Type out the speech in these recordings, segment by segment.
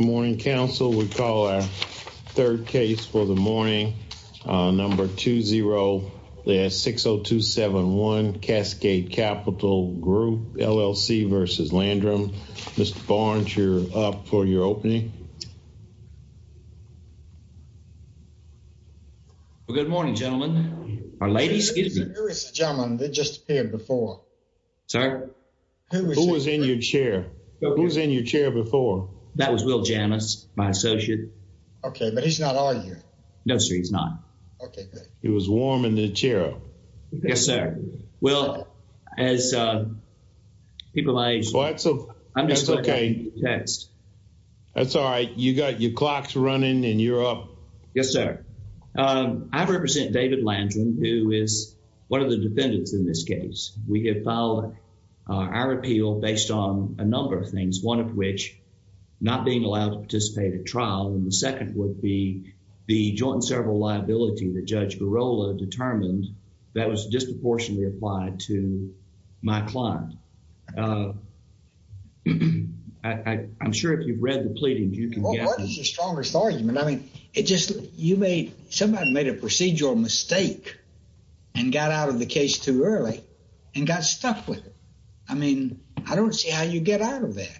Good morning, Council. We call our third case for the morning, number 20-60271, Cascade Capital Group, L.L.C. v. Landrum. Mr. Barnes, you're up for your opening. Well, good morning, gentlemen. Ladies, excuse me. Who is the gentleman that just appeared before? Sorry? Who was in your chair? Who was in your chair before? That was Will Janus, my associate. OK, but he's not on here. No, sir, he's not. OK, good. He was warm in the chair. Yes, sir. Will, as people my age... Well, that's OK. I'm just looking at the text. That's all right. You got your clocks running and you're up. Yes, sir. I represent David Landrum, who is one of the defendants in this case. We have filed our appeal based on a number of things, one of which not being allowed to participate at trial. And the second would be the joint serval liability that Judge Girola determined that was disproportionately applied to my client. I'm sure if you've read the pleadings, you can get... What is your strongest argument? I mean, it just you made... And got out of the case too early and got stuck with it. I mean, I don't see how you get out of that.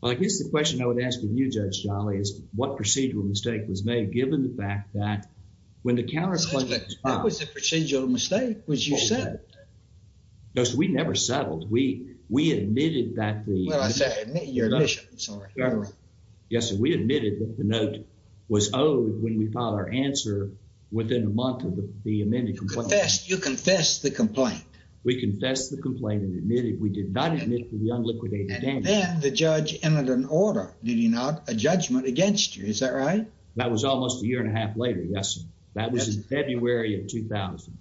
Well, I guess the question I would ask of you, Judge Jolly, is what procedural mistake was made, given the fact that when the counterclaim... That was a procedural mistake, which you said. No, sir, we never settled. We admitted that the... Well, I said your admission, sorry. Yes, sir. We admitted that the note was owed when we filed our answer within a month of the amended complaint. You confessed the complaint. We confessed the complaint and admitted. We did not admit to the unliquidated damage. And then the judge entered an order, did he not? A judgment against you. Is that right? That was almost a year and a half later. Yes, sir. That was in February of 2000.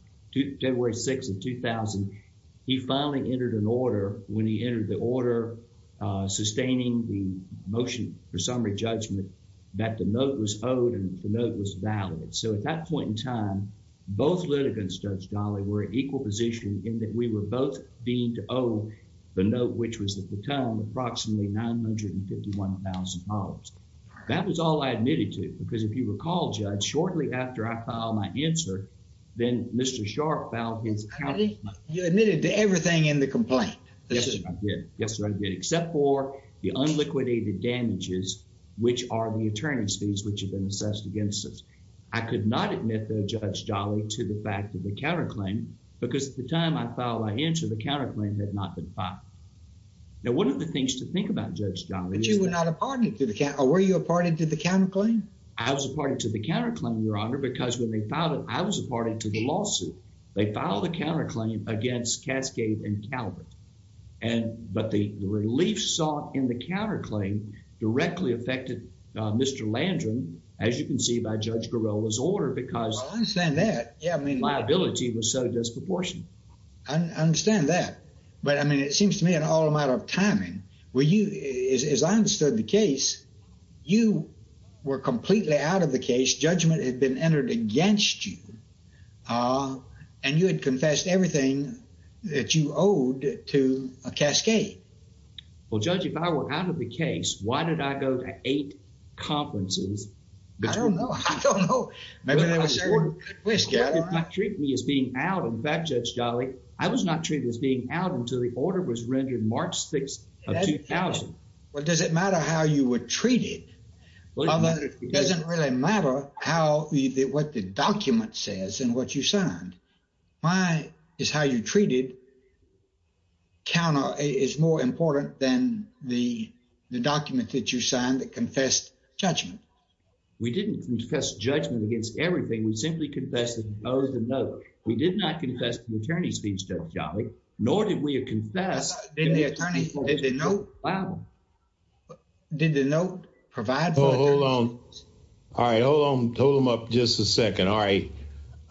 February 6th of 2000, he finally entered an order. When he entered the order sustaining the motion for summary judgment, that the note was owed and the note was valid. So at that point in time, both litigants, Judge Jolly, were in equal position in that we were both deemed to owe the note, which was at the time approximately $951,000. That was all I admitted to. Because if you recall, Judge, shortly after I filed my answer, then Mr. Sharpe filed his counterclaim. You admitted to everything in the complaint. Yes, sir. I did. Yes, sir. I did. Except for the unliquidated damages, which are the attorney's fees, which have been assessed against us. I could not admit, though, Judge Jolly, to the fact of the counterclaim because at the time I filed my answer, the counterclaim had not been filed. Now, one of the things to think about, Judge Jolly, is that- But you were not a party to the counterclaim. Were you a party to the counterclaim? I was a party to the counterclaim, Your Honor, because when they filed it, I was a party to the lawsuit. They filed a counterclaim against Cascade and Calvert. But the relief sought in the counterclaim directly affected Mr. Landrum, as you can see by Judge Giroir's order, because- Well, I understand that. Yeah, I mean- Liability was so disproportionate. I understand that. But, I mean, it seems to me an all amount of timing. As I understood the case, you were completely out of the case. Judgment had been entered against you, and you had confessed everything that you owed to Cascade. Well, Judge, if I were out of the case, why did I go to eight conferences? I don't know. I don't know. Maybe there was a twist, Your Honor. They treated me as being out. In fact, Judge Jolly, I was not treated as being out until the order was rendered March 6th of 2000. Well, does it matter how you were treated? Well, it doesn't really matter what the document says and what you signed. My, is how you're treated, is more important than the document that you signed that confessed judgment. We didn't confess judgment against everything. We simply confessed that we owed a note. We did not confess to an attorney's fee, Judge Jolly, nor did we have confessed that the attorney owed a note. Wow. Did the note provide for- Hold on. All right, hold on. Hold him up just a second. All right.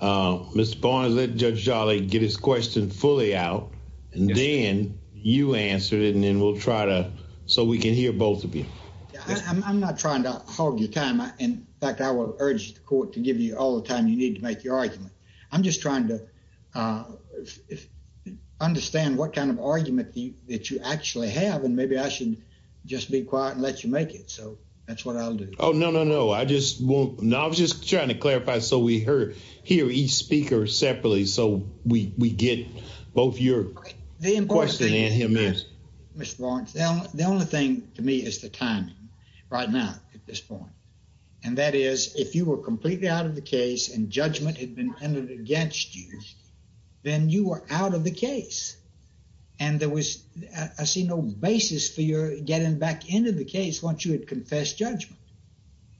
Mr. Barnes, let Judge Jolly get his question fully out, and then you answer it, and then we'll try to, so we can hear both of you. I'm not trying to hog your time. In fact, I will urge the court to give you all the time you need to make your argument. I'm just trying to understand what kind of argument that you actually have, and maybe I should just be quiet and let you make it. So, that's what I'll do. Oh, no, no, no. I just won't. No, I was just trying to clarify, so we hear each speaker separately, so we get both your question and his. Mr. Barnes, the only thing to me is the timing, right now, at this point. And that is, if you were completely out of the case, and judgment had been handed against you, then you were out of the case. And there was, I see, no basis for your getting back into the case once you had confessed judgment.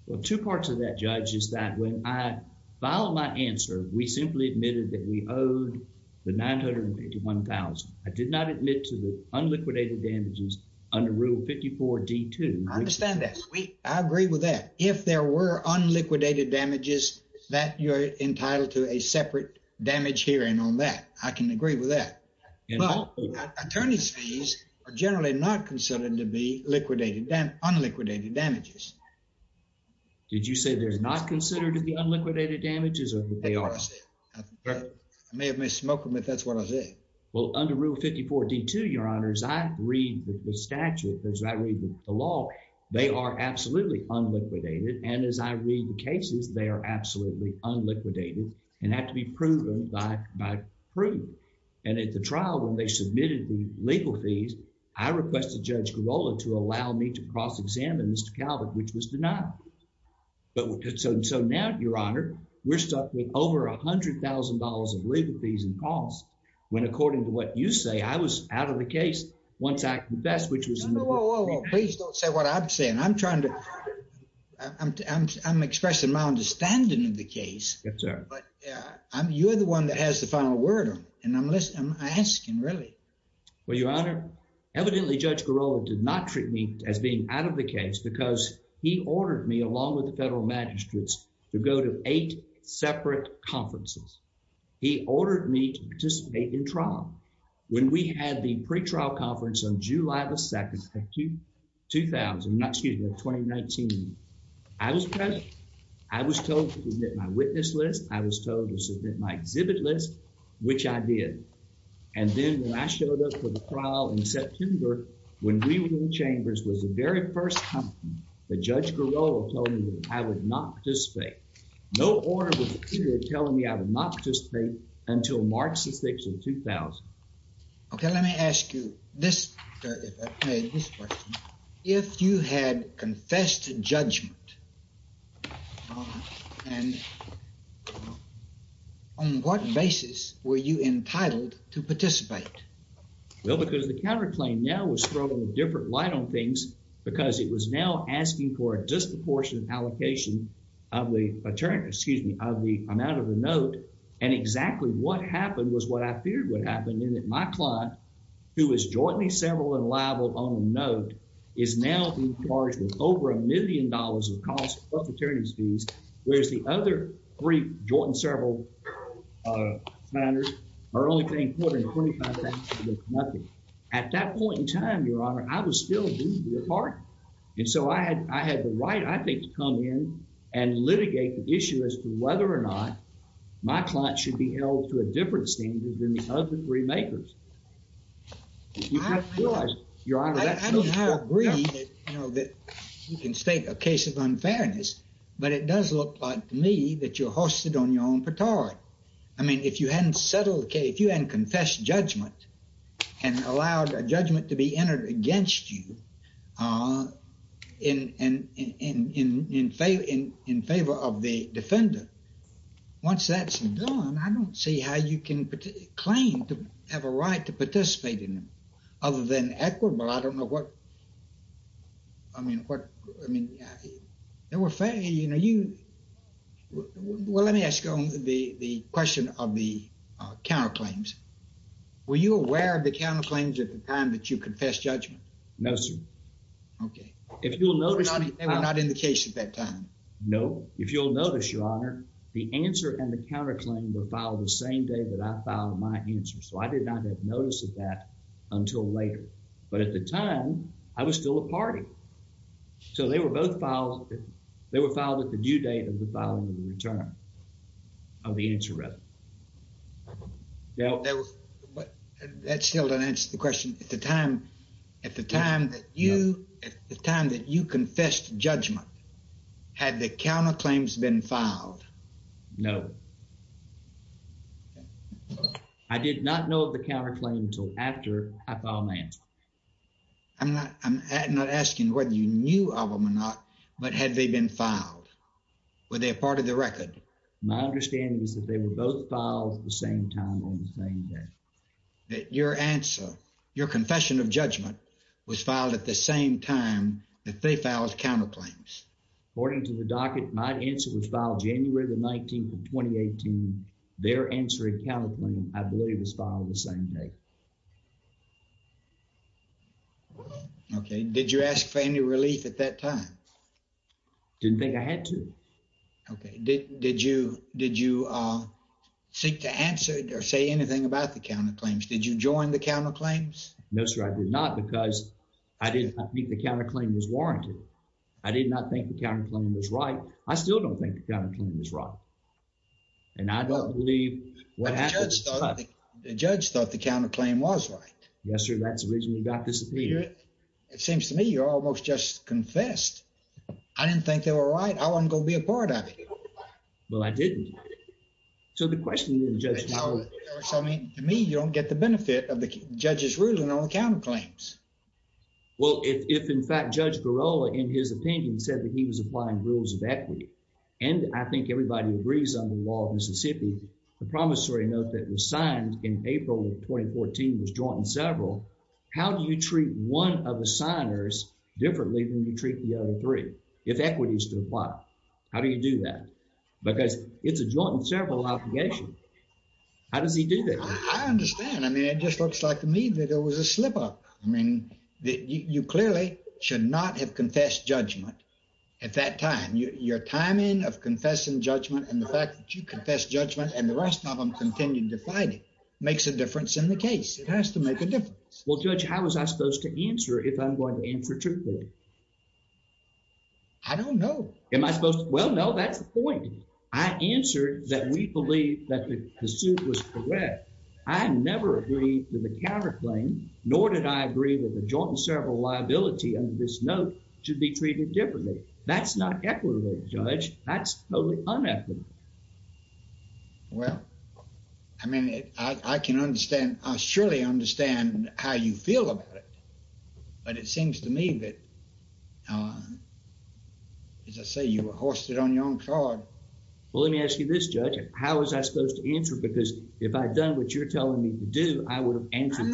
Well, two parts of that, Judge, is that when I filed my answer, we simply admitted that we owed the $981,000. I did not admit to the unliquidated damages under Rule 54-D2. I understand that. I agree with that. If there were unliquidated damages, that you're entitled to a separate damage hearing on that. I can agree with that. Attorney's fees are generally not considered to be unliquidated damages. Did you say they're not considered to be unliquidated damages? That's what I said. I may have missed smoking, but that's what I said. Well, under Rule 54-D2, Your Honor, as I read the statute, as I read the law, they are absolutely unliquidated. And as I read the cases, they are absolutely unliquidated, and have to be proven by proof. And at the trial, when they submitted the legal fees, I requested Judge Girola to allow me to cross-examine Mr. Calvert, which was denied. So now, Your Honor, we're stuck with over $100,000 of legal fees and costs, when according to what you say, I was out of the case once I confessed, which was— No, no, whoa, whoa, whoa. Please don't say what I'm saying. I'm trying to—I'm expressing my understanding of the case. Yes, sir. You're the one that has the final word on it, and I'm asking, really. Well, Your Honor, evidently, Judge Girola did not treat me as being out of the case, because he ordered me, along with the federal magistrates, to go to eight separate conferences. He ordered me to participate in trial. When we had the pretrial conference on July 2, 2019, I was present. I was told to submit my witness list. I was told to submit my exhibit list, which I did. And then, when I showed up for the trial in September, when we were in the chambers, was the very first time that Judge Girola told me that I would not participate. No order was issued telling me I would not participate until March the 6th of 2000. Okay, let me ask you this—this question. If you had confessed to judgment, and on what basis were you entitled to participate? Well, because the counterclaim now was throwing a different light on things, because it was now asking for a disproportionate allocation of the amount of the note, and exactly what happened was what I feared would happen, in that my client, who was jointly several and liable on a note, is now being charged with over a million dollars of cost of prosecutor's fees, whereas the other three joint and several finders are only paying $425,000 worth of nothing. At that point in time, Your Honor, I was still due to be a part. And so I had the right, I think, to come in and litigate the issue as to whether or not my client should be held to a different standard than the other three makers. I mean, I agree that, you know, you can state a case of unfairness, but it does look like to me that you're hoisted on your own petard. I mean, if you hadn't settled the case, if you hadn't confessed judgment and allowed a judgment to be entered against you in favor of the defender, once that's done, I don't see how you can claim to have a right to participate in it, other than equitable. I don't know what, I mean, what, I mean, there were fairly, you know, you, well, let me ask you the question of the counterclaims. Were you aware of the counterclaims at the time that you confessed judgment? No, sir. Okay. If you'll notice, They were not in the case at that time? No, if you'll notice, Your Honor, the answer and the counterclaim were filed the same day that I filed my answer. So I did not have notice of that until later. But at the time, I was still a party. So they were both filed, they were filed at the due date of the filing of the return of the answer rather. That still doesn't answer the question. At the time, at the time that you, at the time that you confessed judgment, had the counterclaims been filed? No. I did not know of the counterclaim until after I filed my answer. I'm not, I'm not asking whether you knew of them or not, but had they been filed? Were they a part of the record? My understanding is that they were both filed at the same time on the same day. That your answer, your confession of judgment was filed at the same time that they filed counterclaims? According to the docket, my answer was filed January the 19th of 2018. Their answer and counterclaim, I believe, was filed the same day. Okay, did you ask for any relief at that time? Didn't think I had to. Okay, did you, did you seek to answer or say anything about the counterclaims? Did you join the counterclaims? No, sir, I did not because I did not think the counterclaim was warranted. I did not think the counterclaim was right. I still don't think the counterclaim is right. And I don't believe what happened. But the judge thought the counterclaim was right. Yes, sir, that's the reason we got disappeared. It seems to me you're almost just confessed. I didn't think they were right. I wasn't going to be a part of it. Well, I didn't. So the question is, Judge, To me, you don't get the benefit of the judge's ruling on the counterclaims. Well, if in fact, Judge Girola, in his opinion, said that he was applying rules of equity, and I think everybody agrees on the law of Mississippi, the promissory note that was signed in April of 2014 was joint and several. How do you treat one of the signers differently than you treat the other three if equity is to apply? How do you do that? Because it's a joint and several obligation. How does he do that? I understand. I mean, it just looks like to me that there was a slip up. I mean, you clearly should not have confessed judgment at that time. Your timing of confessing judgment and the fact that you confess judgment and the rest of them continue to fight makes a difference in the case. It has to make a difference. Well, Judge, how was I supposed to answer if I'm going to answer truthfully? I don't know. Am I supposed to? Well, no, that's the point. I answered that we believe that the suit was correct. I never agreed to the counterclaim, nor did I agree that the joint and several liability of this note should be treated differently. That's not equitable, Judge. That's totally unethical. Well, I mean, I can understand. I surely understand how you feel about it, but it seems to me that, as I say, you were hoisted on your own card. Well, let me ask you this, Judge. How was I supposed to answer? Because if I'd done what you're telling me to do, I would have answered.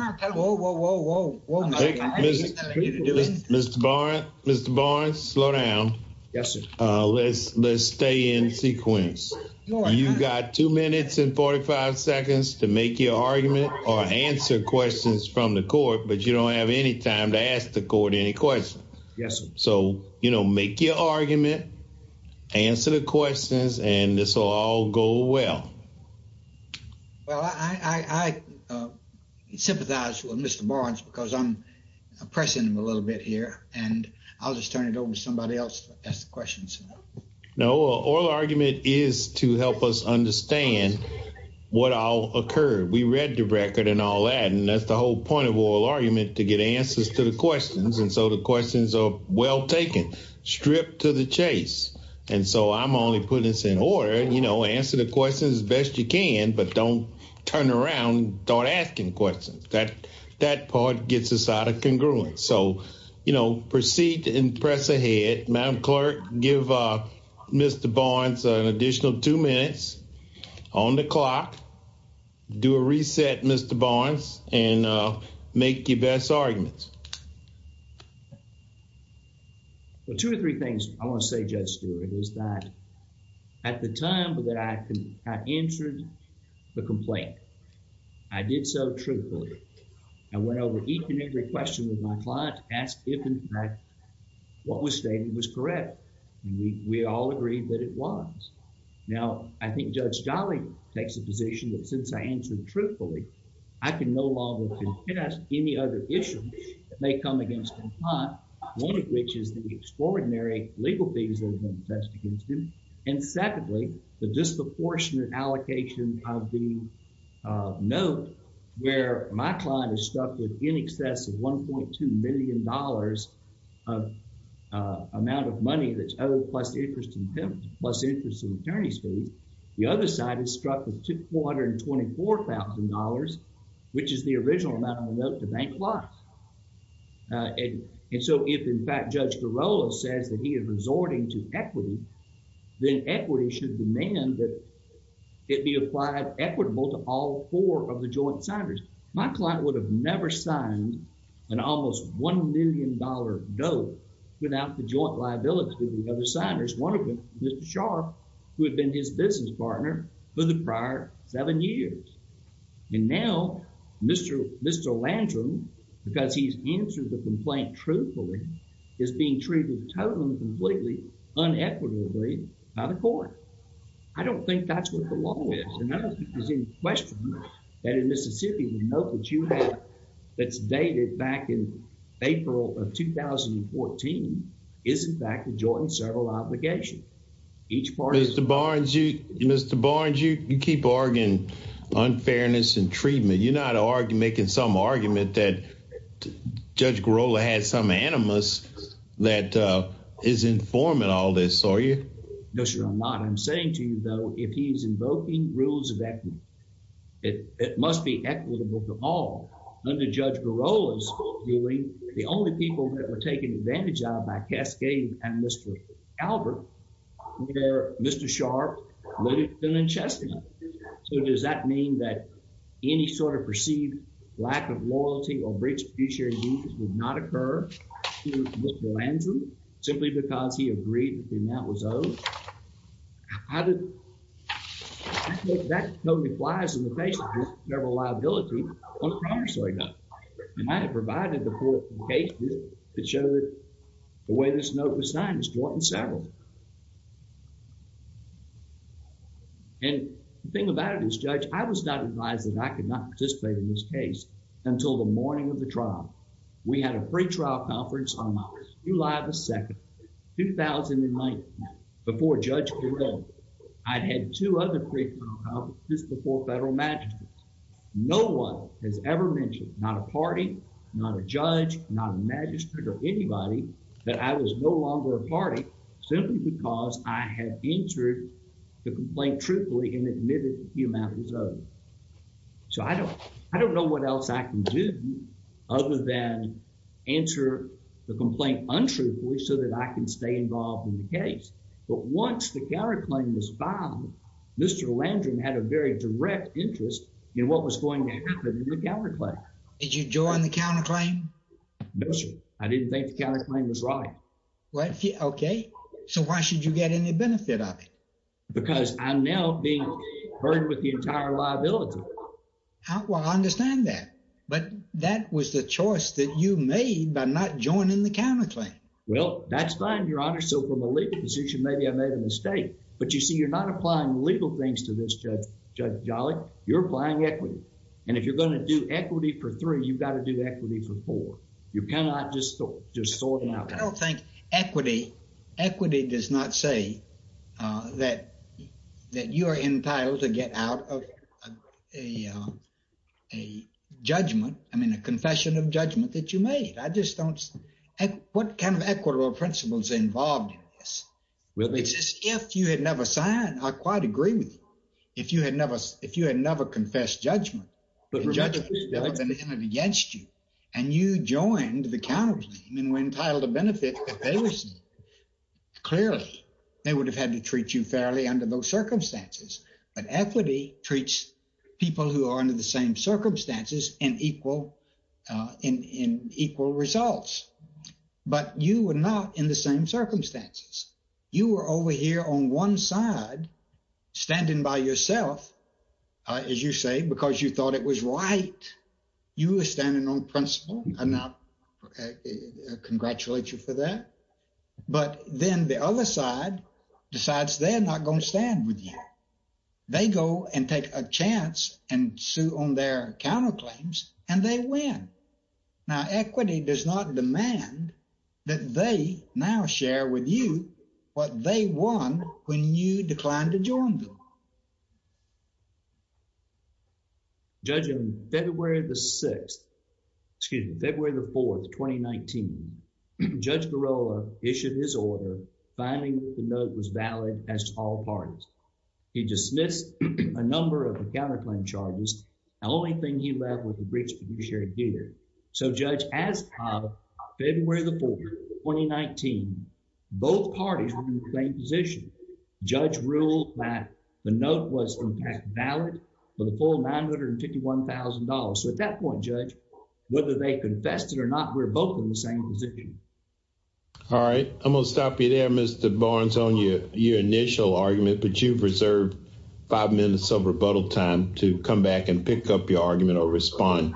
Mr. Barnes, slow down. Yes, sir. Let's stay in sequence. You got two minutes and 45 seconds to make your argument or answer questions from the court, but you don't have any time to ask the court any questions. Yes, sir. Make your argument, answer the questions, and this will all go well. Well, I sympathize with Mr. Barnes because I'm pressing him a little bit here, and I'll just turn it over to somebody else to ask the questions. No, oral argument is to help us understand what all occurred. We read the record and all that, and that's the whole point of oral argument, to get answers to the questions. And so the questions are well taken, stripped to the chase. And so I'm only putting this in order. You know, answer the questions as best you can, but don't turn around and start asking questions. That part gets us out of congruence. So, you know, proceed and press ahead. Madam Clerk, give Mr. Barnes an additional two minutes on the clock. Do a reset, Mr. Barnes, and make your best arguments. Well, two or three things I want to say, Judge Stewart, is that at the time that I answered the complaint, I did so truthfully. I went over each and every question with my client, asked if in fact what was stated was correct, and we all agreed that it was. Now, I think Judge Jolly takes the position that since I answered truthfully, I can no longer contest any other issue that may come against my client, one of which is the extraordinary legal fees that have been attested against him. And secondly, the disproportionate allocation of the note where my client is stuck with in excess of $1.2 million of amount of money that's owed plus interest in payment, plus interest in attorney's fees. The other side is struck with $424,000, which is the original amount of note the bank lost. And so if in fact Judge Girola says that he is resorting to equity, then equity should demand that it be applied equitable to all four of the joint signers. My client would have never signed an almost $1 million note without the joint liability of the signers. One of them, Mr. Sharpe, who had been his business partner for the prior seven years. And now, Mr. Landrum, because he's answered the complaint truthfully, is being treated totally and completely unequitably by the court. I don't think that's what the law is. And I don't think there's any question that in Mississippi, the note that you have that's dated back in April of 2014, is in fact a joint servile obligation. Each party- Mr. Barnes, you keep arguing unfairness and treatment. You're not making some argument that Judge Girola has some animus that is informing all this, are you? No, sir, I'm not. I'm saying to you, though, if he's invoking rules of equity, it must be equitable to all. Under Judge Girola's viewing, the only people that were taken advantage of by Cascade and Mr. Albert were Mr. Sharpe, Littleton, and Chestnut. So does that mean that any sort of perceived lack of loyalty or breach of fiduciary duties would not occur to Mr. Landrum, simply because he agreed that the amount was owed? How did- I think that totally flies in the face of this terrible liability on a counter-story note. And I had provided the court with cases that showed the way this note was signed, it's joint and servile. And the thing about it is, Judge, I was not advised that I could not participate in this case until the morning of the trial. We had a pre-trial conference on July the 2nd, 2019. Before Judge Girola, I'd had two other pre-trial conferences before federal magistrates. No one has ever mentioned, not a party, not a judge, not a magistrate or anybody, that I was no longer a party, simply because I had entered the complaint truthfully and admitted the amount was owed. So I don't- I don't know what else I can do other than answer the complaint untruthfully so that I can stay involved in the case. But once the counterclaim was found, Mr. Landrum had a very direct interest in what was going to happen in the counterclaim. Did you join the counterclaim? No, sir. I didn't think the counterclaim was right. Okay. So why should you get any benefit of it? Because I'm now being burdened with the entire liability. Well, I understand that. But that was the choice that you made by not joining the counterclaim. Well, that's fine, Your Honor. So from a legal position, maybe I made a mistake. But you see, you're not applying legal things to this, Judge Jolly. You're applying equity. And if you're going to do equity for three, you've got to do equity for four. You cannot just sort it out. I don't think equity does not say that you are entitled to get out of a judgment. I mean, a confession of judgment that you made. I just don't... What kind of equitable principles are involved in this? It's as if you had never signed. I quite agree with you. If you had never confessed judgment, the judgment would have been entered against you. And you joined the counterclaim and were entitled to benefit. Clearly, they would have had to treat you fairly under those circumstances. But equity treats people who are under the same circumstances in equal results. But you were not in the same circumstances. You were over here on one side, standing by yourself, as you say, because you thought it was right. You were standing on principle, and I congratulate you for that. But then the other side decides they're not going to stand with you. They go and take a chance and sue on their counterclaims, and they win. Now, equity does not demand that they now share with you what they won when you declined to join them. Now, judging February the 6th, excuse me, February the 4th, 2019, Judge Garola issued his order, finding the note was valid as to all parties. He dismissed a number of the counterclaim charges. The only thing he left was the breach of fiduciary duty. So Judge Ascob, February the 4th, 2019, both parties were in the same position. Judge ruled that the note was, in fact, valid for the full $951,000. So at that point, Judge, whether they confessed it or not, we're both in the same position. All right, I'm going to stop you there, Mr. Barnes, on your initial argument. But you've reserved five minutes of rebuttal time to come back and pick up your argument or respond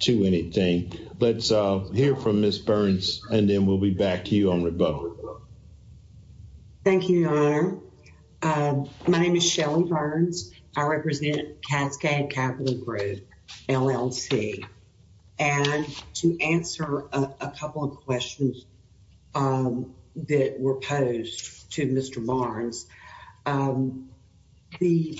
to anything. Let's hear from Ms. Burns, and then we'll be back to you on rebuttal. Thank you, Your Honor. My name is Shelly Burns. I represent Cascade Capital Group, LLC. And to answer a couple of questions that were posed to Mr. Barnes, the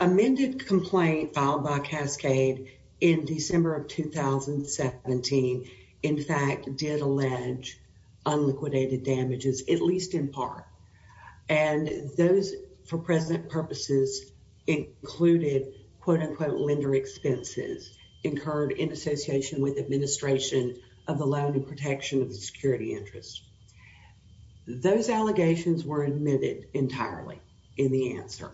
amended complaint filed by Cascade in December of 2017, in fact, did allege unliquidated damages, at least in part. And those, for present purposes, included, quote-unquote, lender expenses incurred in association with administration of the loan and protection of the security interest. Those allegations were admitted entirely in the answer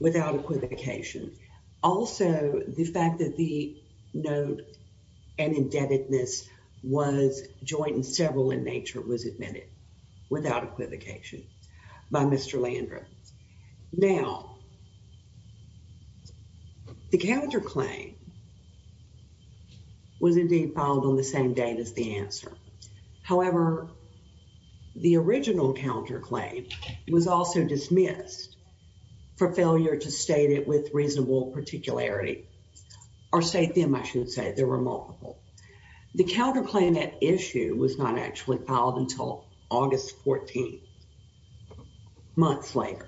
without equivocation. Also, the fact that the note and indebtedness was joint and several in nature was admitted without equivocation by Mr. Landrieu. Now, the counterclaim was indeed filed on the same date as the answer. However, the original counterclaim was also dismissed for failure to state it with reasonable particularity, or state them, I should say. There were multiple. The counterclaim at issue was not actually filed until August 14, months later,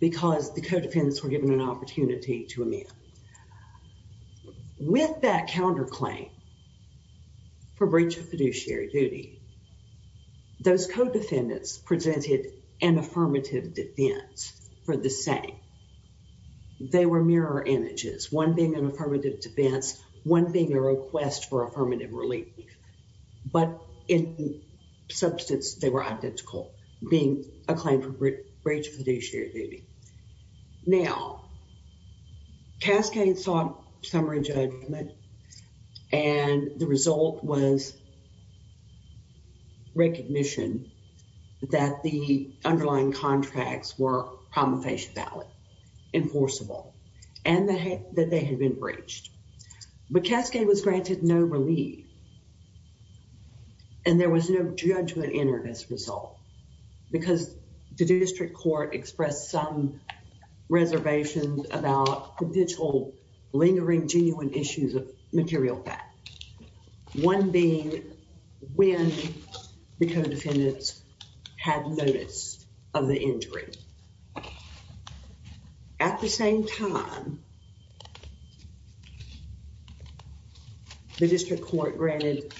because the co-defendants were given an opportunity to amend. With that counterclaim for breach of fiduciary duty, those co-defendants presented an affirmative defense for the same. They were mirror images, one being an affirmative defense, one being a request for affirmative relief. But in substance, they were identical, being a claim for breach of fiduciary duty. Now, Cascade sought summary judgment, and the result was recognition that the underlying contracts were promulgation valid. Enforceable. And that they had been breached. But Cascade was granted no relief, and there was no judgment entered as a result, because the district court expressed some reservations about potential lingering genuine issues of material fact. One being when the co-defendants had noticed of the injury. At the same time, the district court granted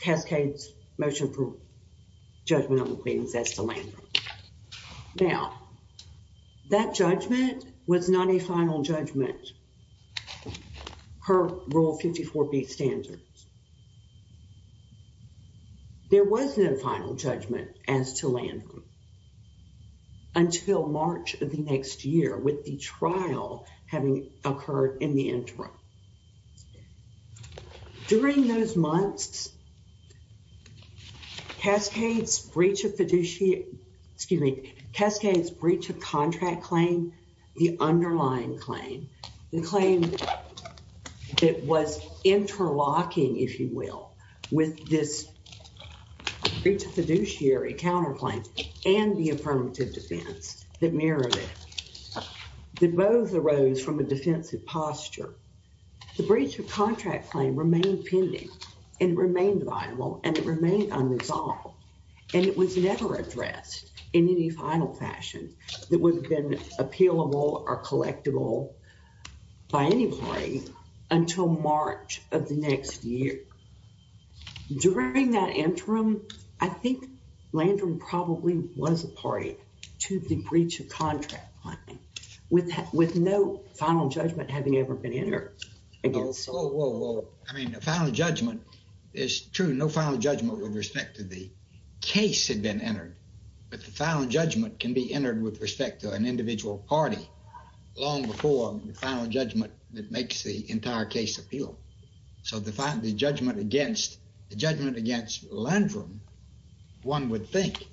Cascade's motion for judgment on the claims as to Landrum. Now, that judgment was not a final judgment per Rule 54B standards. There was no final judgment as to Landrum until March of the next year, with the trial having occurred in the interim. During those months, Cascade's breach of fiduciary, excuse me, Cascade's breach of contract claim, the underlying claim, the claim that was interlocking, if you will, with this breach of fiduciary counterclaim and the affirmative defense that mirrored it, that both arose from a defensive posture. The breach of contract claim remained pending, and it remained viable, and it remained unresolved, and it was never addressed in any final fashion that would have been appealable or collectible by any party until March of the next year. During that interim, I think Landrum probably was a party to the breach of contract claim, with no final judgment having ever been entered. Whoa, whoa, whoa. I mean, the final judgment is true. No final judgment with respect to the case had been entered, but the final judgment can be entered with respect to an individual party long before the final judgment that makes the entire case appeal. So the judgment against Landrum, one would think,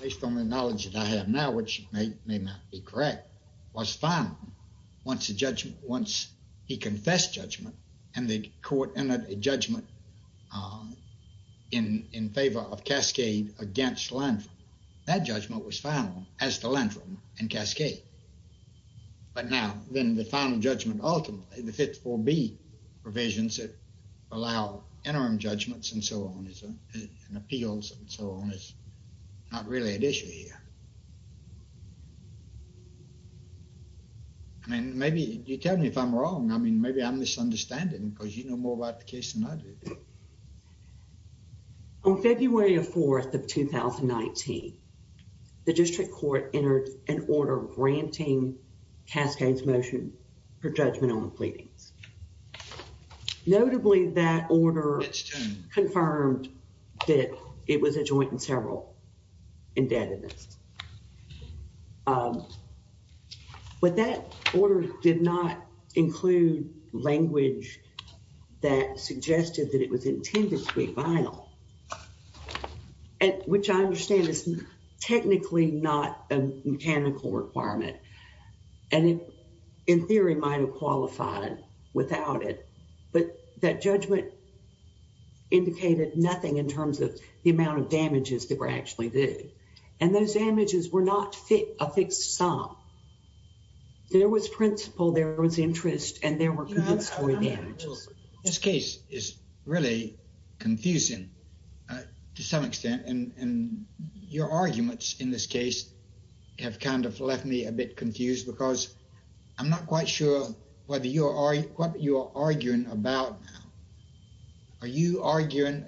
based on the knowledge that I have now, which may not be correct, was final once the judgment, once he confessed judgment, and the court entered a judgment in favor of Cascade against Landrum. That judgment was final as to Landrum and Cascade. But now, then the final judgment ultimately, the 54B provisions that allow interim judgments and so on and appeals and so on is not really at issue here. I mean, maybe you tell me if I'm wrong. I mean, maybe I'm misunderstanding because you know more about the case than I do. Okay. On February 4th of 2019, the district court entered an order granting Cascade's motion for judgment on the pleadings. Notably, that order confirmed that it was a joint and several indebtedness. But that order did not include language that suggested that it was intended to be final. Which I understand is technically not a mechanical requirement. And it, in theory, might have qualified without it. But that judgment indicated nothing in terms of the amount of damages that were actually due. And those damages were not a fixed sum. There was principle. There was interest. And there were compensatory damages. This case is really confusing to some extent. And your arguments in this case have kind of left me a bit confused. Because I'm not quite sure what you are arguing about. Are you arguing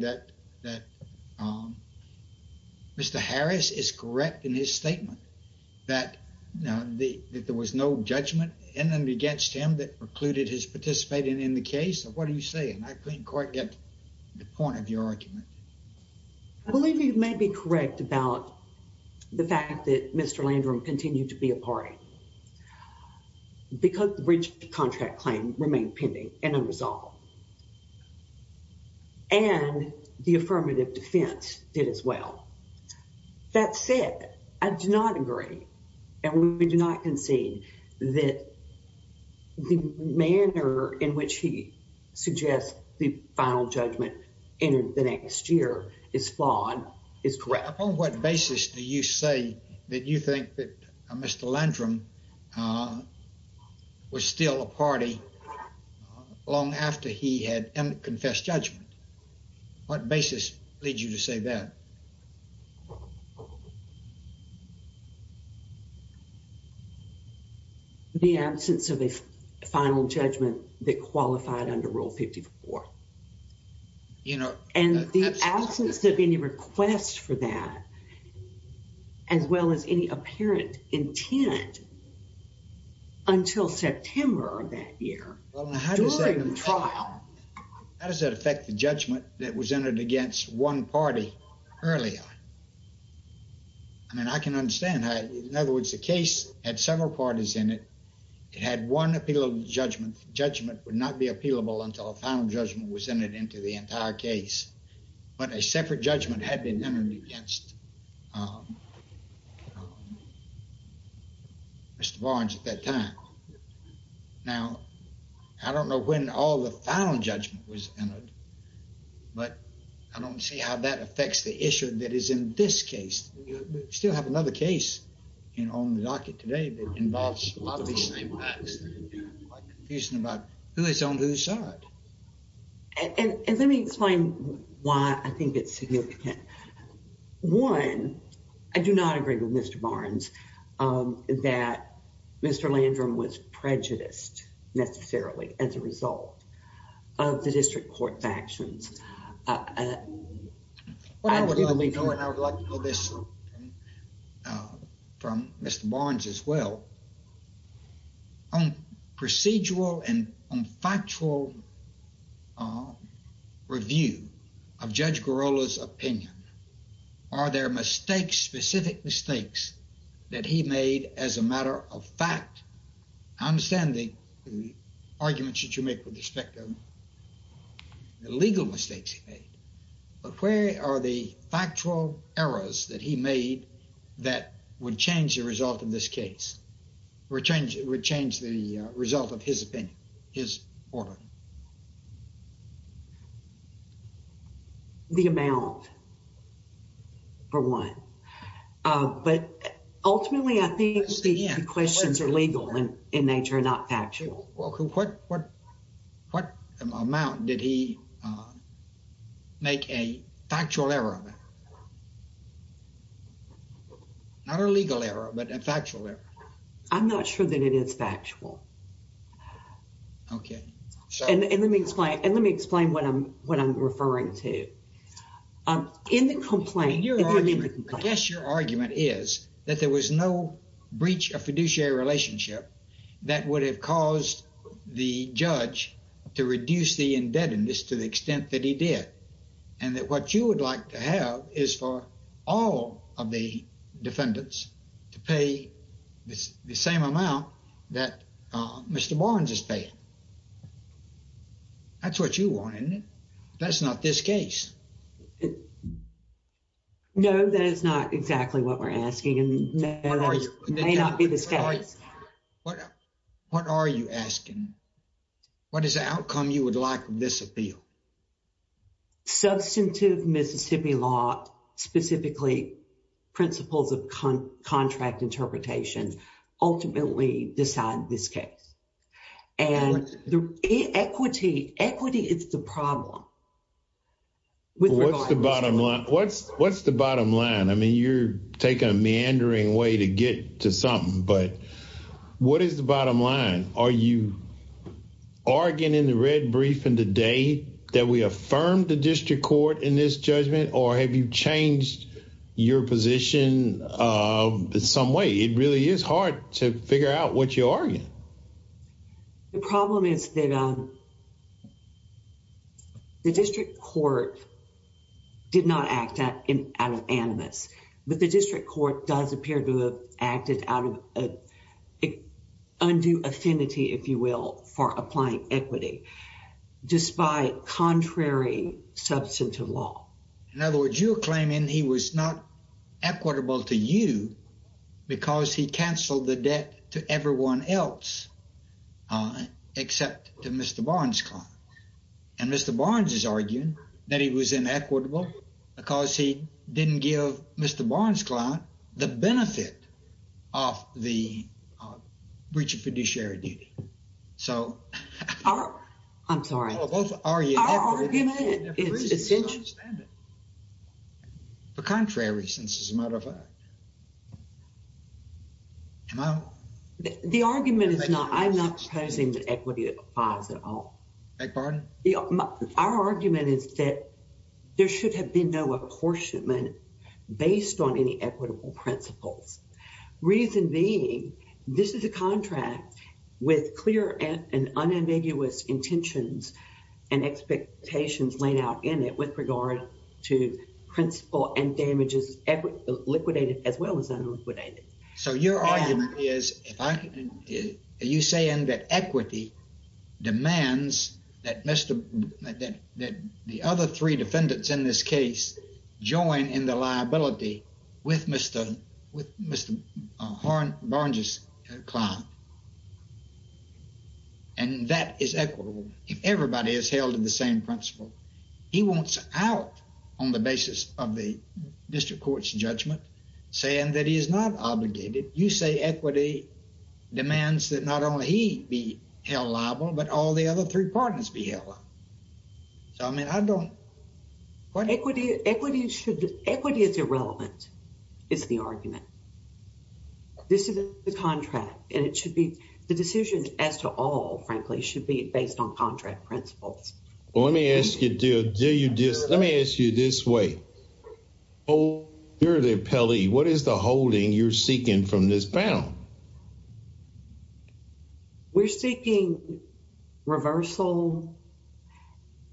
that Mr. Harris is correct in his statement that there was no judgment in and against him that precluded his participating in the case? What are you saying? I couldn't quite get the point of your argument. I believe you may be correct about the fact that Mr. Landrum continued to be a party. Because the bridge contract claim remained pending and unresolved. And the affirmative defense did as well. That said, I do not agree. And we do not concede that the manner in which he suggests the final judgment in the next year is flawed, is correct. Upon what basis do you say that you think that Mr. Landrum was still a party long after he had confessed judgment? What basis leads you to say that? The absence of a final judgment that qualified under Rule 54. And the absence of any request for that, as well as any apparent intent, until September of that year, during the trial. How does that affect the judgment that was entered against one party earlier? I mean, I can understand how, in other words, the case had several parties in it. It had one appealable judgment. Judgment would not be appealable until a final judgment was entered into the entire case. But a separate judgment had been entered against Mr. Barnes at that time. Now, I don't know when all the final judgment was entered. But I don't see how that affects the issue that is in this case. We still have another case on the docket today that involves a lot of the same facts. I'm confused about who is on whose side. And let me explain why I think it's significant. One, I do not agree with Mr. Barnes that Mr. Landrum was prejudiced, necessarily, as a result of the district court's actions. Well, I would like to know this from Mr. Barnes as well. On procedural and on factual review of Judge Girola's opinion, are there mistakes, specific mistakes, that he made as a matter of fact? I understand the arguments that you make with respect to the legal mistakes he made. But where are the factual errors that he made that would change the result of this case? Would change the result of his opinion, his order? The amount, for one. But ultimately, I think the questions are legal in nature, not factual. What amount did he make a factual error? Not a legal error, but a factual error. I'm not sure that it is factual. Okay, so... And let me explain what I'm referring to. In the complaint... I guess your argument is that there was no breach of fiduciary relationship that would have caused the judge to reduce the indebtedness to the extent that he did. And that what you would like to have is for all of the defendants to pay the same amount that Mr. Barnes is paying. That's what you want, isn't it? That's not this case. No, that is not exactly what we're asking. And that may not be the case. What are you asking? What is the outcome you would like with this appeal? Substantive Mississippi law, specifically principles of contract interpretation, ultimately decide this case. And equity is the problem. What's the bottom line? I mean, you're taking a meandering way to get to something. But what is the bottom line? Are you arguing in the red briefing today that we affirmed the district court in this judgment? Or have you changed your position in some way? It really is hard to figure out what you're arguing. The problem is that the district court did not act out of animus. But the district court does appear to have acted out of undue affinity, if you will, for applying equity, despite contrary substantive law. In other words, you're claiming he was not equitable to you because he canceled the debt to everyone else except to Mr. Barnes. And Mr. Barnes is arguing that he was inequitable because he didn't give Mr. Barnes' client the benefit of the breach of fiduciary duty. So I'm sorry. For contrary reasons, as a matter of fact. The argument is not, I'm not proposing that equity applies at all. Beg pardon? Our argument is that there should have been no apportionment based on any equitable principles. Reason being, this is a contract with clear and unambiguous intentions and expectations laid out in it with regard to principle and damages liquidated as well as unliquidated. So your argument is, are you saying that equity demands that the other three defendants in this case join in the liability with Mr. Barnes' client? And that is equitable if everybody is held to the same principle. He wants out on the basis of the district court's judgment saying that he is not obligated. You say equity demands that not only he be held liable, but all the other three parties be held liable. So I mean, I don't. Equity is irrelevant, is the argument. This is the contract and it should be, the decisions as to all, frankly, should be based on contract principles. Well, let me ask you, let me ask you this way. Oh, you're the appellee, what is the holding you're seeking from this panel? We're seeking reversal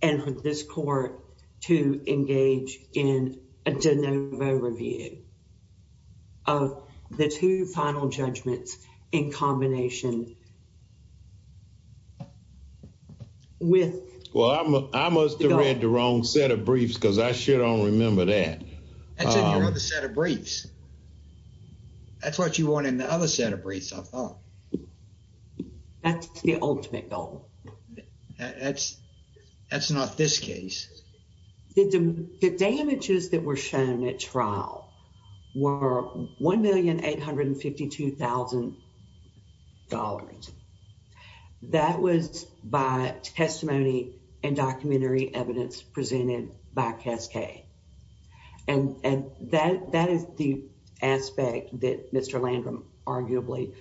and for this court to engage in a de novo review of the two final judgments in combination with... Well, I must have read the wrong set of briefs because I sure don't remember that. That's in your other set of briefs. That's what you want in the other set of briefs, I thought. That's the ultimate goal. That's not this case. The damages that were shown at trial were $1,852,000. That was by testimony and documentary evidence presented by Cascade. And that is the aspect that Mr. Landrum arguably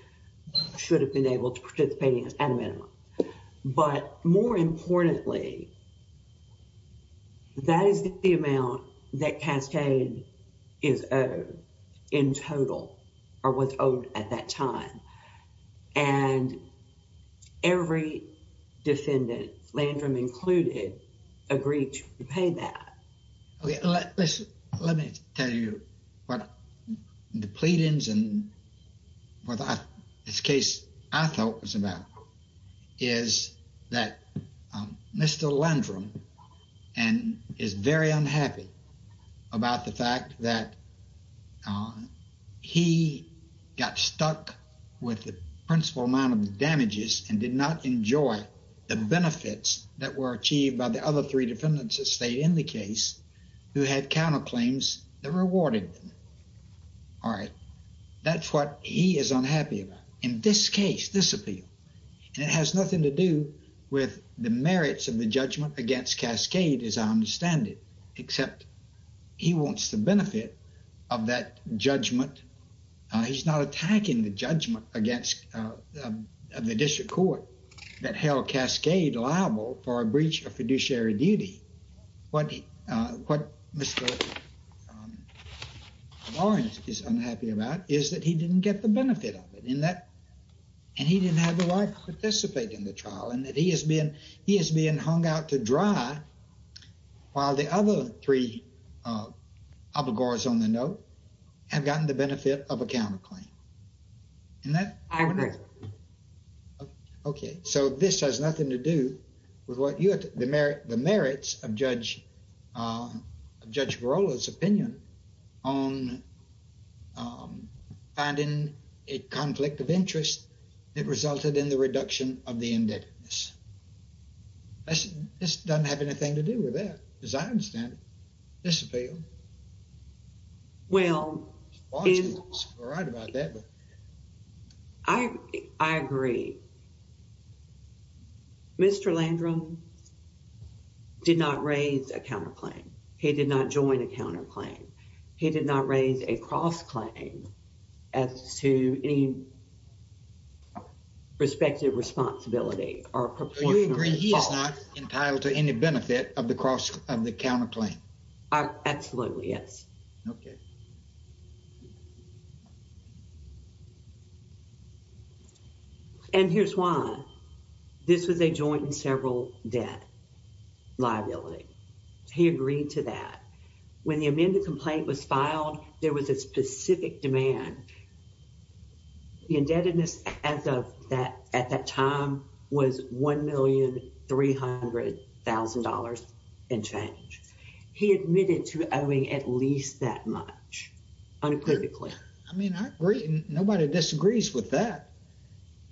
should have been able to participate in at a time. That is the amount that Cascade is owed in total or was owed at that time. And every defendant, Landrum included, agreed to repay that. Let me tell you what the pleadings and what this case I thought was about is that Mr. Landrum is very unhappy about the fact that he got stuck with the principal amount of the damages and did not enjoy the benefits that were achieved by the other three defendants that stayed in the case who had counterclaims that rewarded them. All right. That's what he is unhappy about. In this case, this appeal, and it has nothing to do with the merits of the judgment against Cascade, as I understand it, except he wants the benefit of that judgment. He's not attacking the judgment against the district court that held Cascade liable for a breach of fiduciary duty. What Mr. Lawrence is unhappy about is that he didn't get the benefit of it. And he didn't have the right to participate in the trial and that he is being hung out to dry while the other three abogors on the note have gotten the benefit of a counterclaim. Isn't that right? I agree. Okay. So this has nothing to do with the merits of Judge Barola's opinion on finding a conflict of interest that resulted in the reduction of the indebtedness. This doesn't have anything to do with that, as I understand it, this appeal. Well, I agree. Mr. Landrum did not raise a counterclaim. He did not join a counterclaim. He did not raise a cross-claim as to any respective responsibility. Do you agree he is not entitled to any benefit of the cross of the counterclaim? Absolutely, yes. Okay. And here's why. This was a joint and several debt liability. He agreed to that. When the amended complaint was filed, there was a specific demand. The indebtedness at that time was $1,300,000 and change. He admitted to owing at least that much unequivocally. I mean, I agree. Nobody disagrees with that.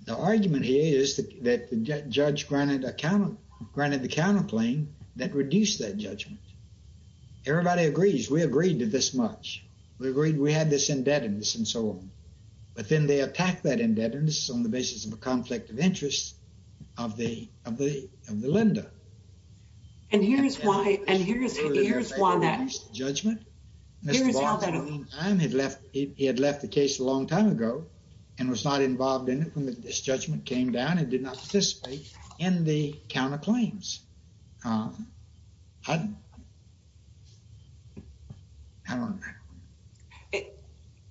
The argument here is that the judge granted the counterclaim that reduced that judgment. Everybody agrees. We agreed to this much. We agreed we had this indebtedness and so on. But then they attack that indebtedness on the basis of a conflict of interest of the lender. And here's why that is. Judgment. He had left the case a long time ago and was not involved in it when this judgment came down. It did not participate in the counterclaims.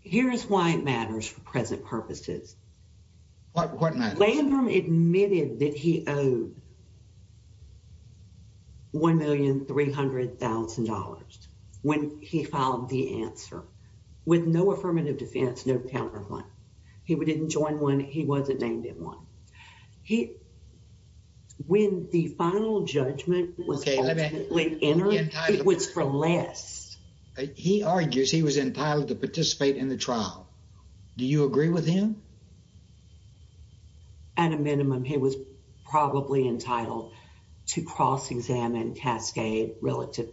Here's why it matters for present purposes. What matters? Landrum admitted that he owed $1,300,000 when he filed the answer with no affirmative defense, no counterclaim. He didn't join one. He wasn't named in one. When the final judgment was ultimately entered, it was for less. He argues he was entitled to participate in the trial. Do you agree with him? At a minimum, he was probably entitled to cross-examine Cascade relative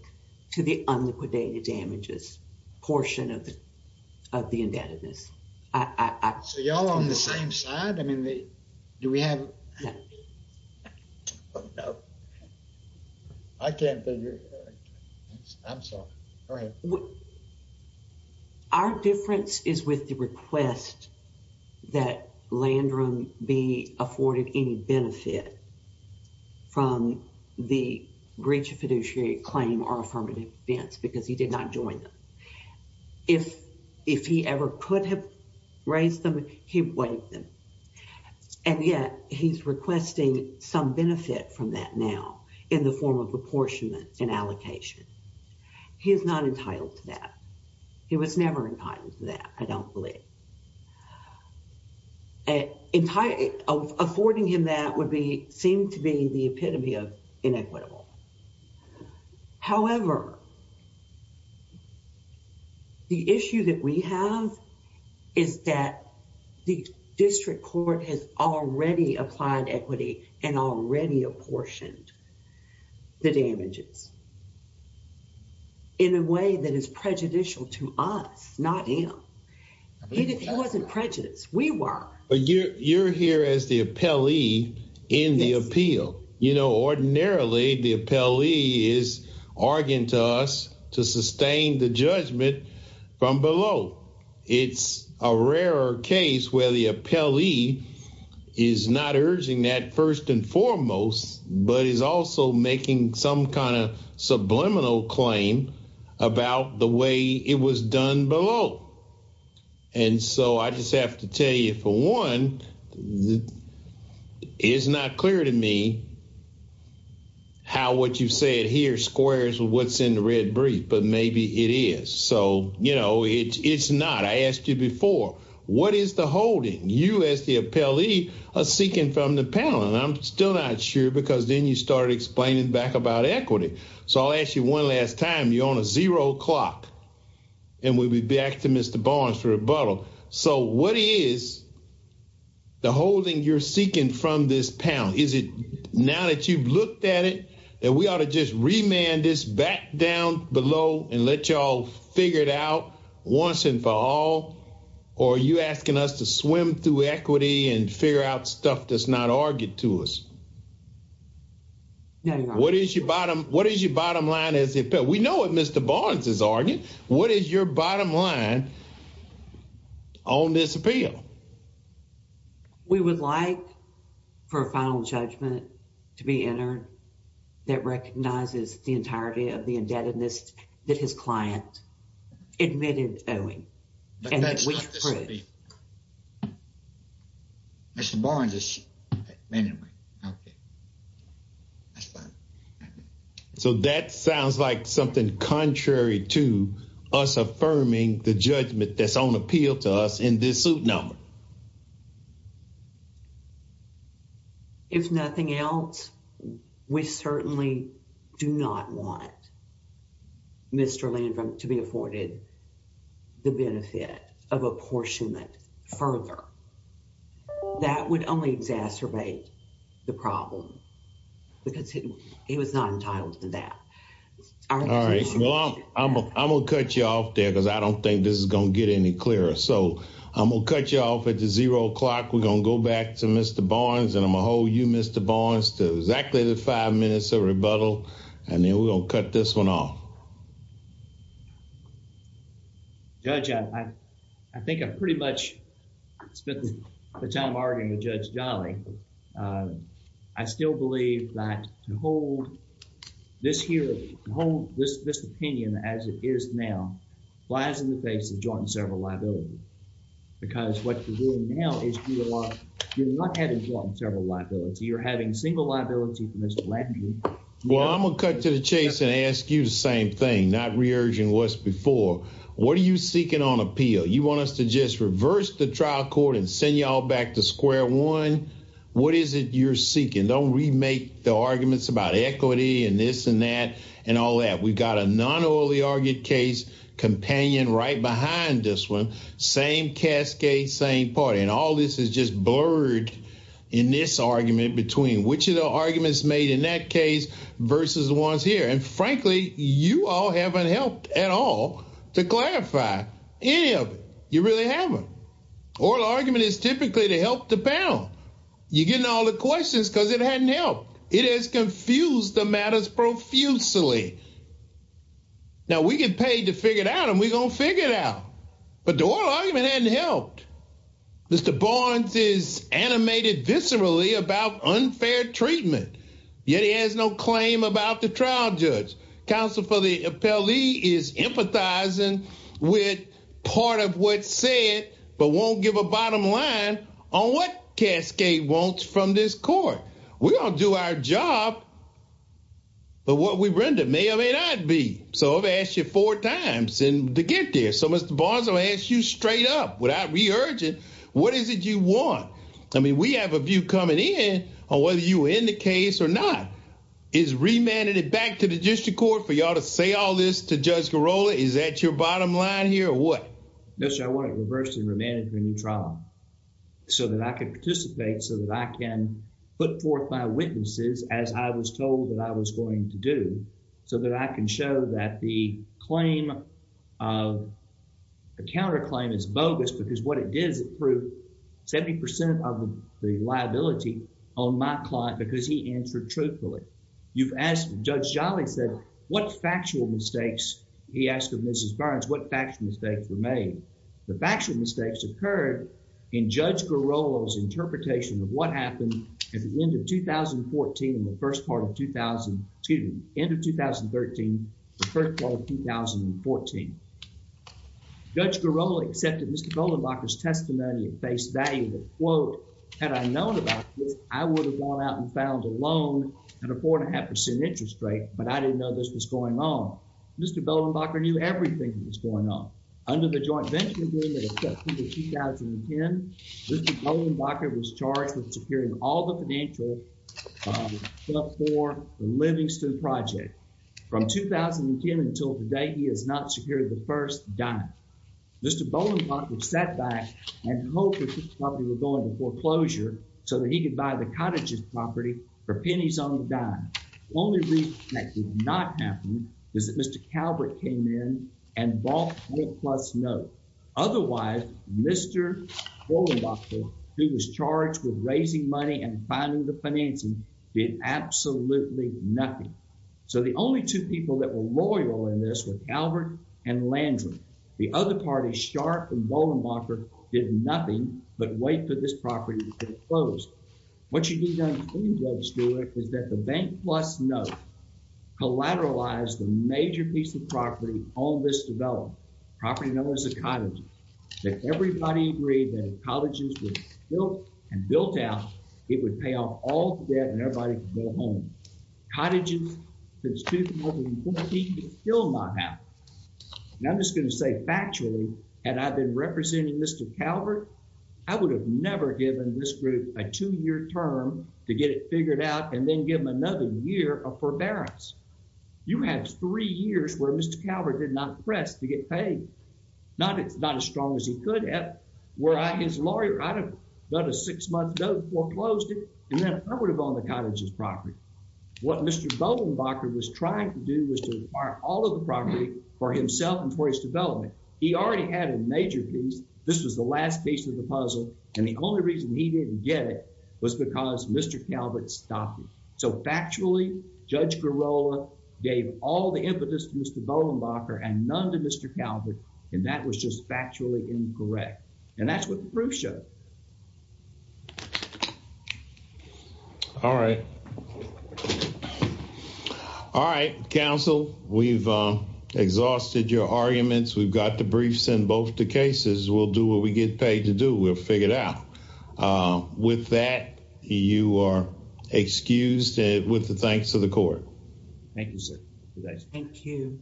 to the unliquidated damages portion of the indebtedness. So y'all on the same side? I mean, do we have... Oh, no. I can't figure it out. I'm sorry. Go ahead. Our difference is with the request that Landrum be afforded any benefit from the breach of fiduciary claim or affirmative defense because he did not join them. If he ever could have raised them, he waived them. And yet he's requesting some benefit from that now in the form of apportionment and allocation. He is not entitled to that. He was never entitled to that, I don't believe. Affording him that would seem to be the epitome of inequitable. However, the issue that we have is that the district court has already applied equity and already apportioned the damages in a way that is prejudicial to us, not him. He wasn't prejudiced. We were. But you're here as the appellee in the appeal. You know, ordinarily, the appellee is arguing to us to sustain the judgment from below. It's a rarer case where the appellee is not urging that first and foremost, but is also making some kind of subliminal claim about the way it was done below. And so I just have to tell you, for one, it's not clear to me how what you said here squares with what's in the red brief. But maybe it is. So, you know, it's not. I asked you before, what is the holding? You as the appellee are seeking from the panel. And I'm still not sure because then you started explaining back about equity. So I'll ask you one last time. You're on a zero clock and we'll be back to Mr. Barnes for rebuttal. So what is the holding you're seeking from this panel? Is it now that you've looked at it that we ought to just remand this back down below and let you all figure it out once and for all? Or are you asking us to swim through equity and figure out stuff that's not argued to us? What is your bottom? What is your bottom line? We know what Mr. Barnes is arguing. What is your bottom line on this appeal? We would like for a final judgment to be entered that recognizes the entirety of the indebtedness that his client admitted owing. Mr. Barnes is. Anyway, okay. So that sounds like something contrary to us affirming the judgment that's on appeal to us in this suit number. If nothing else, we certainly do not want Mr. Landrum to be afforded the benefit of apportionment further. That would only exacerbate the problem because he was not entitled to that. All right, I'm gonna cut you off there because I don't think this is gonna get any clearer. So I'm gonna cut you off at the zero o'clock. We're gonna go back to Mr. Barnes and I'm gonna hold you, Mr. Barnes, to exactly the five minutes of rebuttal and then we're gonna cut this one off. Judge, I think I've pretty much spent the time arguing with Judge Jolly. I still believe that to hold this here, to hold this opinion as it is now, lies in the face of joint and several liability. Because what you're doing now is you're not having joint and several liability. You're having single liability from Mr. Landrum. Well, I'm gonna cut to the chase and ask you the same thing, not re-urging what's before. What are you seeking on appeal? You want us to just reverse the trial court and send y'all back to square one? What is it you're seeking? Don't remake the arguments about equity and this and that and all that. We've got a non-oily argued case companion right behind this one. Same cascade, same party. And all this is just blurred in this argument between which of the arguments made in that case versus the ones here. And frankly, you all haven't helped at all to clarify any of it. You really haven't. Oral argument is typically to help the panel. You're getting all the questions because it hadn't helped. It has confused the matters profusely. Now, we get paid to figure it out and we're gonna figure it out. But the oral argument hadn't helped. Mr. Barnes is animated viscerally about unfair treatment. Yet he has no claim about the trial judge. Counsel for the appellee is empathizing with part of what's said, but won't give a bottom line on what cascade wants from this court. We all do our job, but what we render may or may not be. So I've asked you four times to get there. So Mr. Barnes, I'll ask you straight up without re-urging, what is it you want? I mean, we have a view coming in on whether you were in the case or not. Is remanded it back to the district court for y'all to say all this to Judge Garola? Is that your bottom line here or what? Yes, I want it reversed and remanded for a new trial. So that I can participate, so that I can put forth my witnesses as I was told that I was going to do. So that I can show that the claim of the counterclaim is bogus because what it did is prove 70% of the liability on my client because he answered truthfully. You've asked, Judge Jolly said, what factual mistakes? He asked of Mrs. Barnes, what factual mistakes were made? The factual mistakes occurred in Judge Garola's interpretation of what happened at the end of 2014 and the first part of 2000, excuse me, end of 2013, the first part of 2014. Judge Garola accepted Mr. Goldenbacher's testimony at face value that, quote, had I known about this, I would have gone out and found a loan at a 4.5% interest rate, but I didn't know this was going on. Mr. Goldenbacher knew everything that was going on. Under the joint venture agreement accepted in 2010, Mr. Goldenbacher was charged with securing all the financial for the Livingston project. From 2010 until today, he has not secured the first dime. Mr. Goldenbacher sat back and hoped that this property would go into foreclosure so that he could buy the cottage's property for pennies on the dime. Only reason that did not happen is that Mr. Calvert came in and bought a plus note. Otherwise, Mr. Goldenbacher, who was charged with raising money and finding the financing, did absolutely nothing. So the only two people that were loyal in this were Calvert and Landry. The other party, Sharp and Goldenbacher, did nothing but wait for this property to be closed. What you need to understand, Judge Stewart, is that the bank plus note collateralized a major piece of property on this development, a property known as a cottage. If everybody agreed that the cottage was built and built out, it would pay off all the debt and everybody could go home. Cottages, since 2014, have killed my house. And I'm just going to say factually, had I been representing Mr. Calvert, I would have never given this group a two-year term to get it figured out and then give them another year of forbearance. You have three years where Mr. Calvert did not press to get paid. Not as strong as he could have, where his lawyer, I'd have done a six-month note, foreclosed it, and then I would have owned the cottage's property. What Mr. Goldenbacher was trying to do was to acquire all of the property for himself and for his development. He already had a major piece. This was the last piece of the puzzle, and the only reason he didn't get it was because Mr. Calvert stopped him. So factually, Judge Garola gave all the impetus to Mr. Goldenbacher and none to Mr. Calvert, and that was just factually incorrect. And that's what the proof showed. All right. All right, counsel. We've exhausted your arguments. We've got the briefs in both the cases. We'll do what we get paid to do. We'll figure it out. With that, you are excused with the thanks of the court. Thank you, sir. Thank you.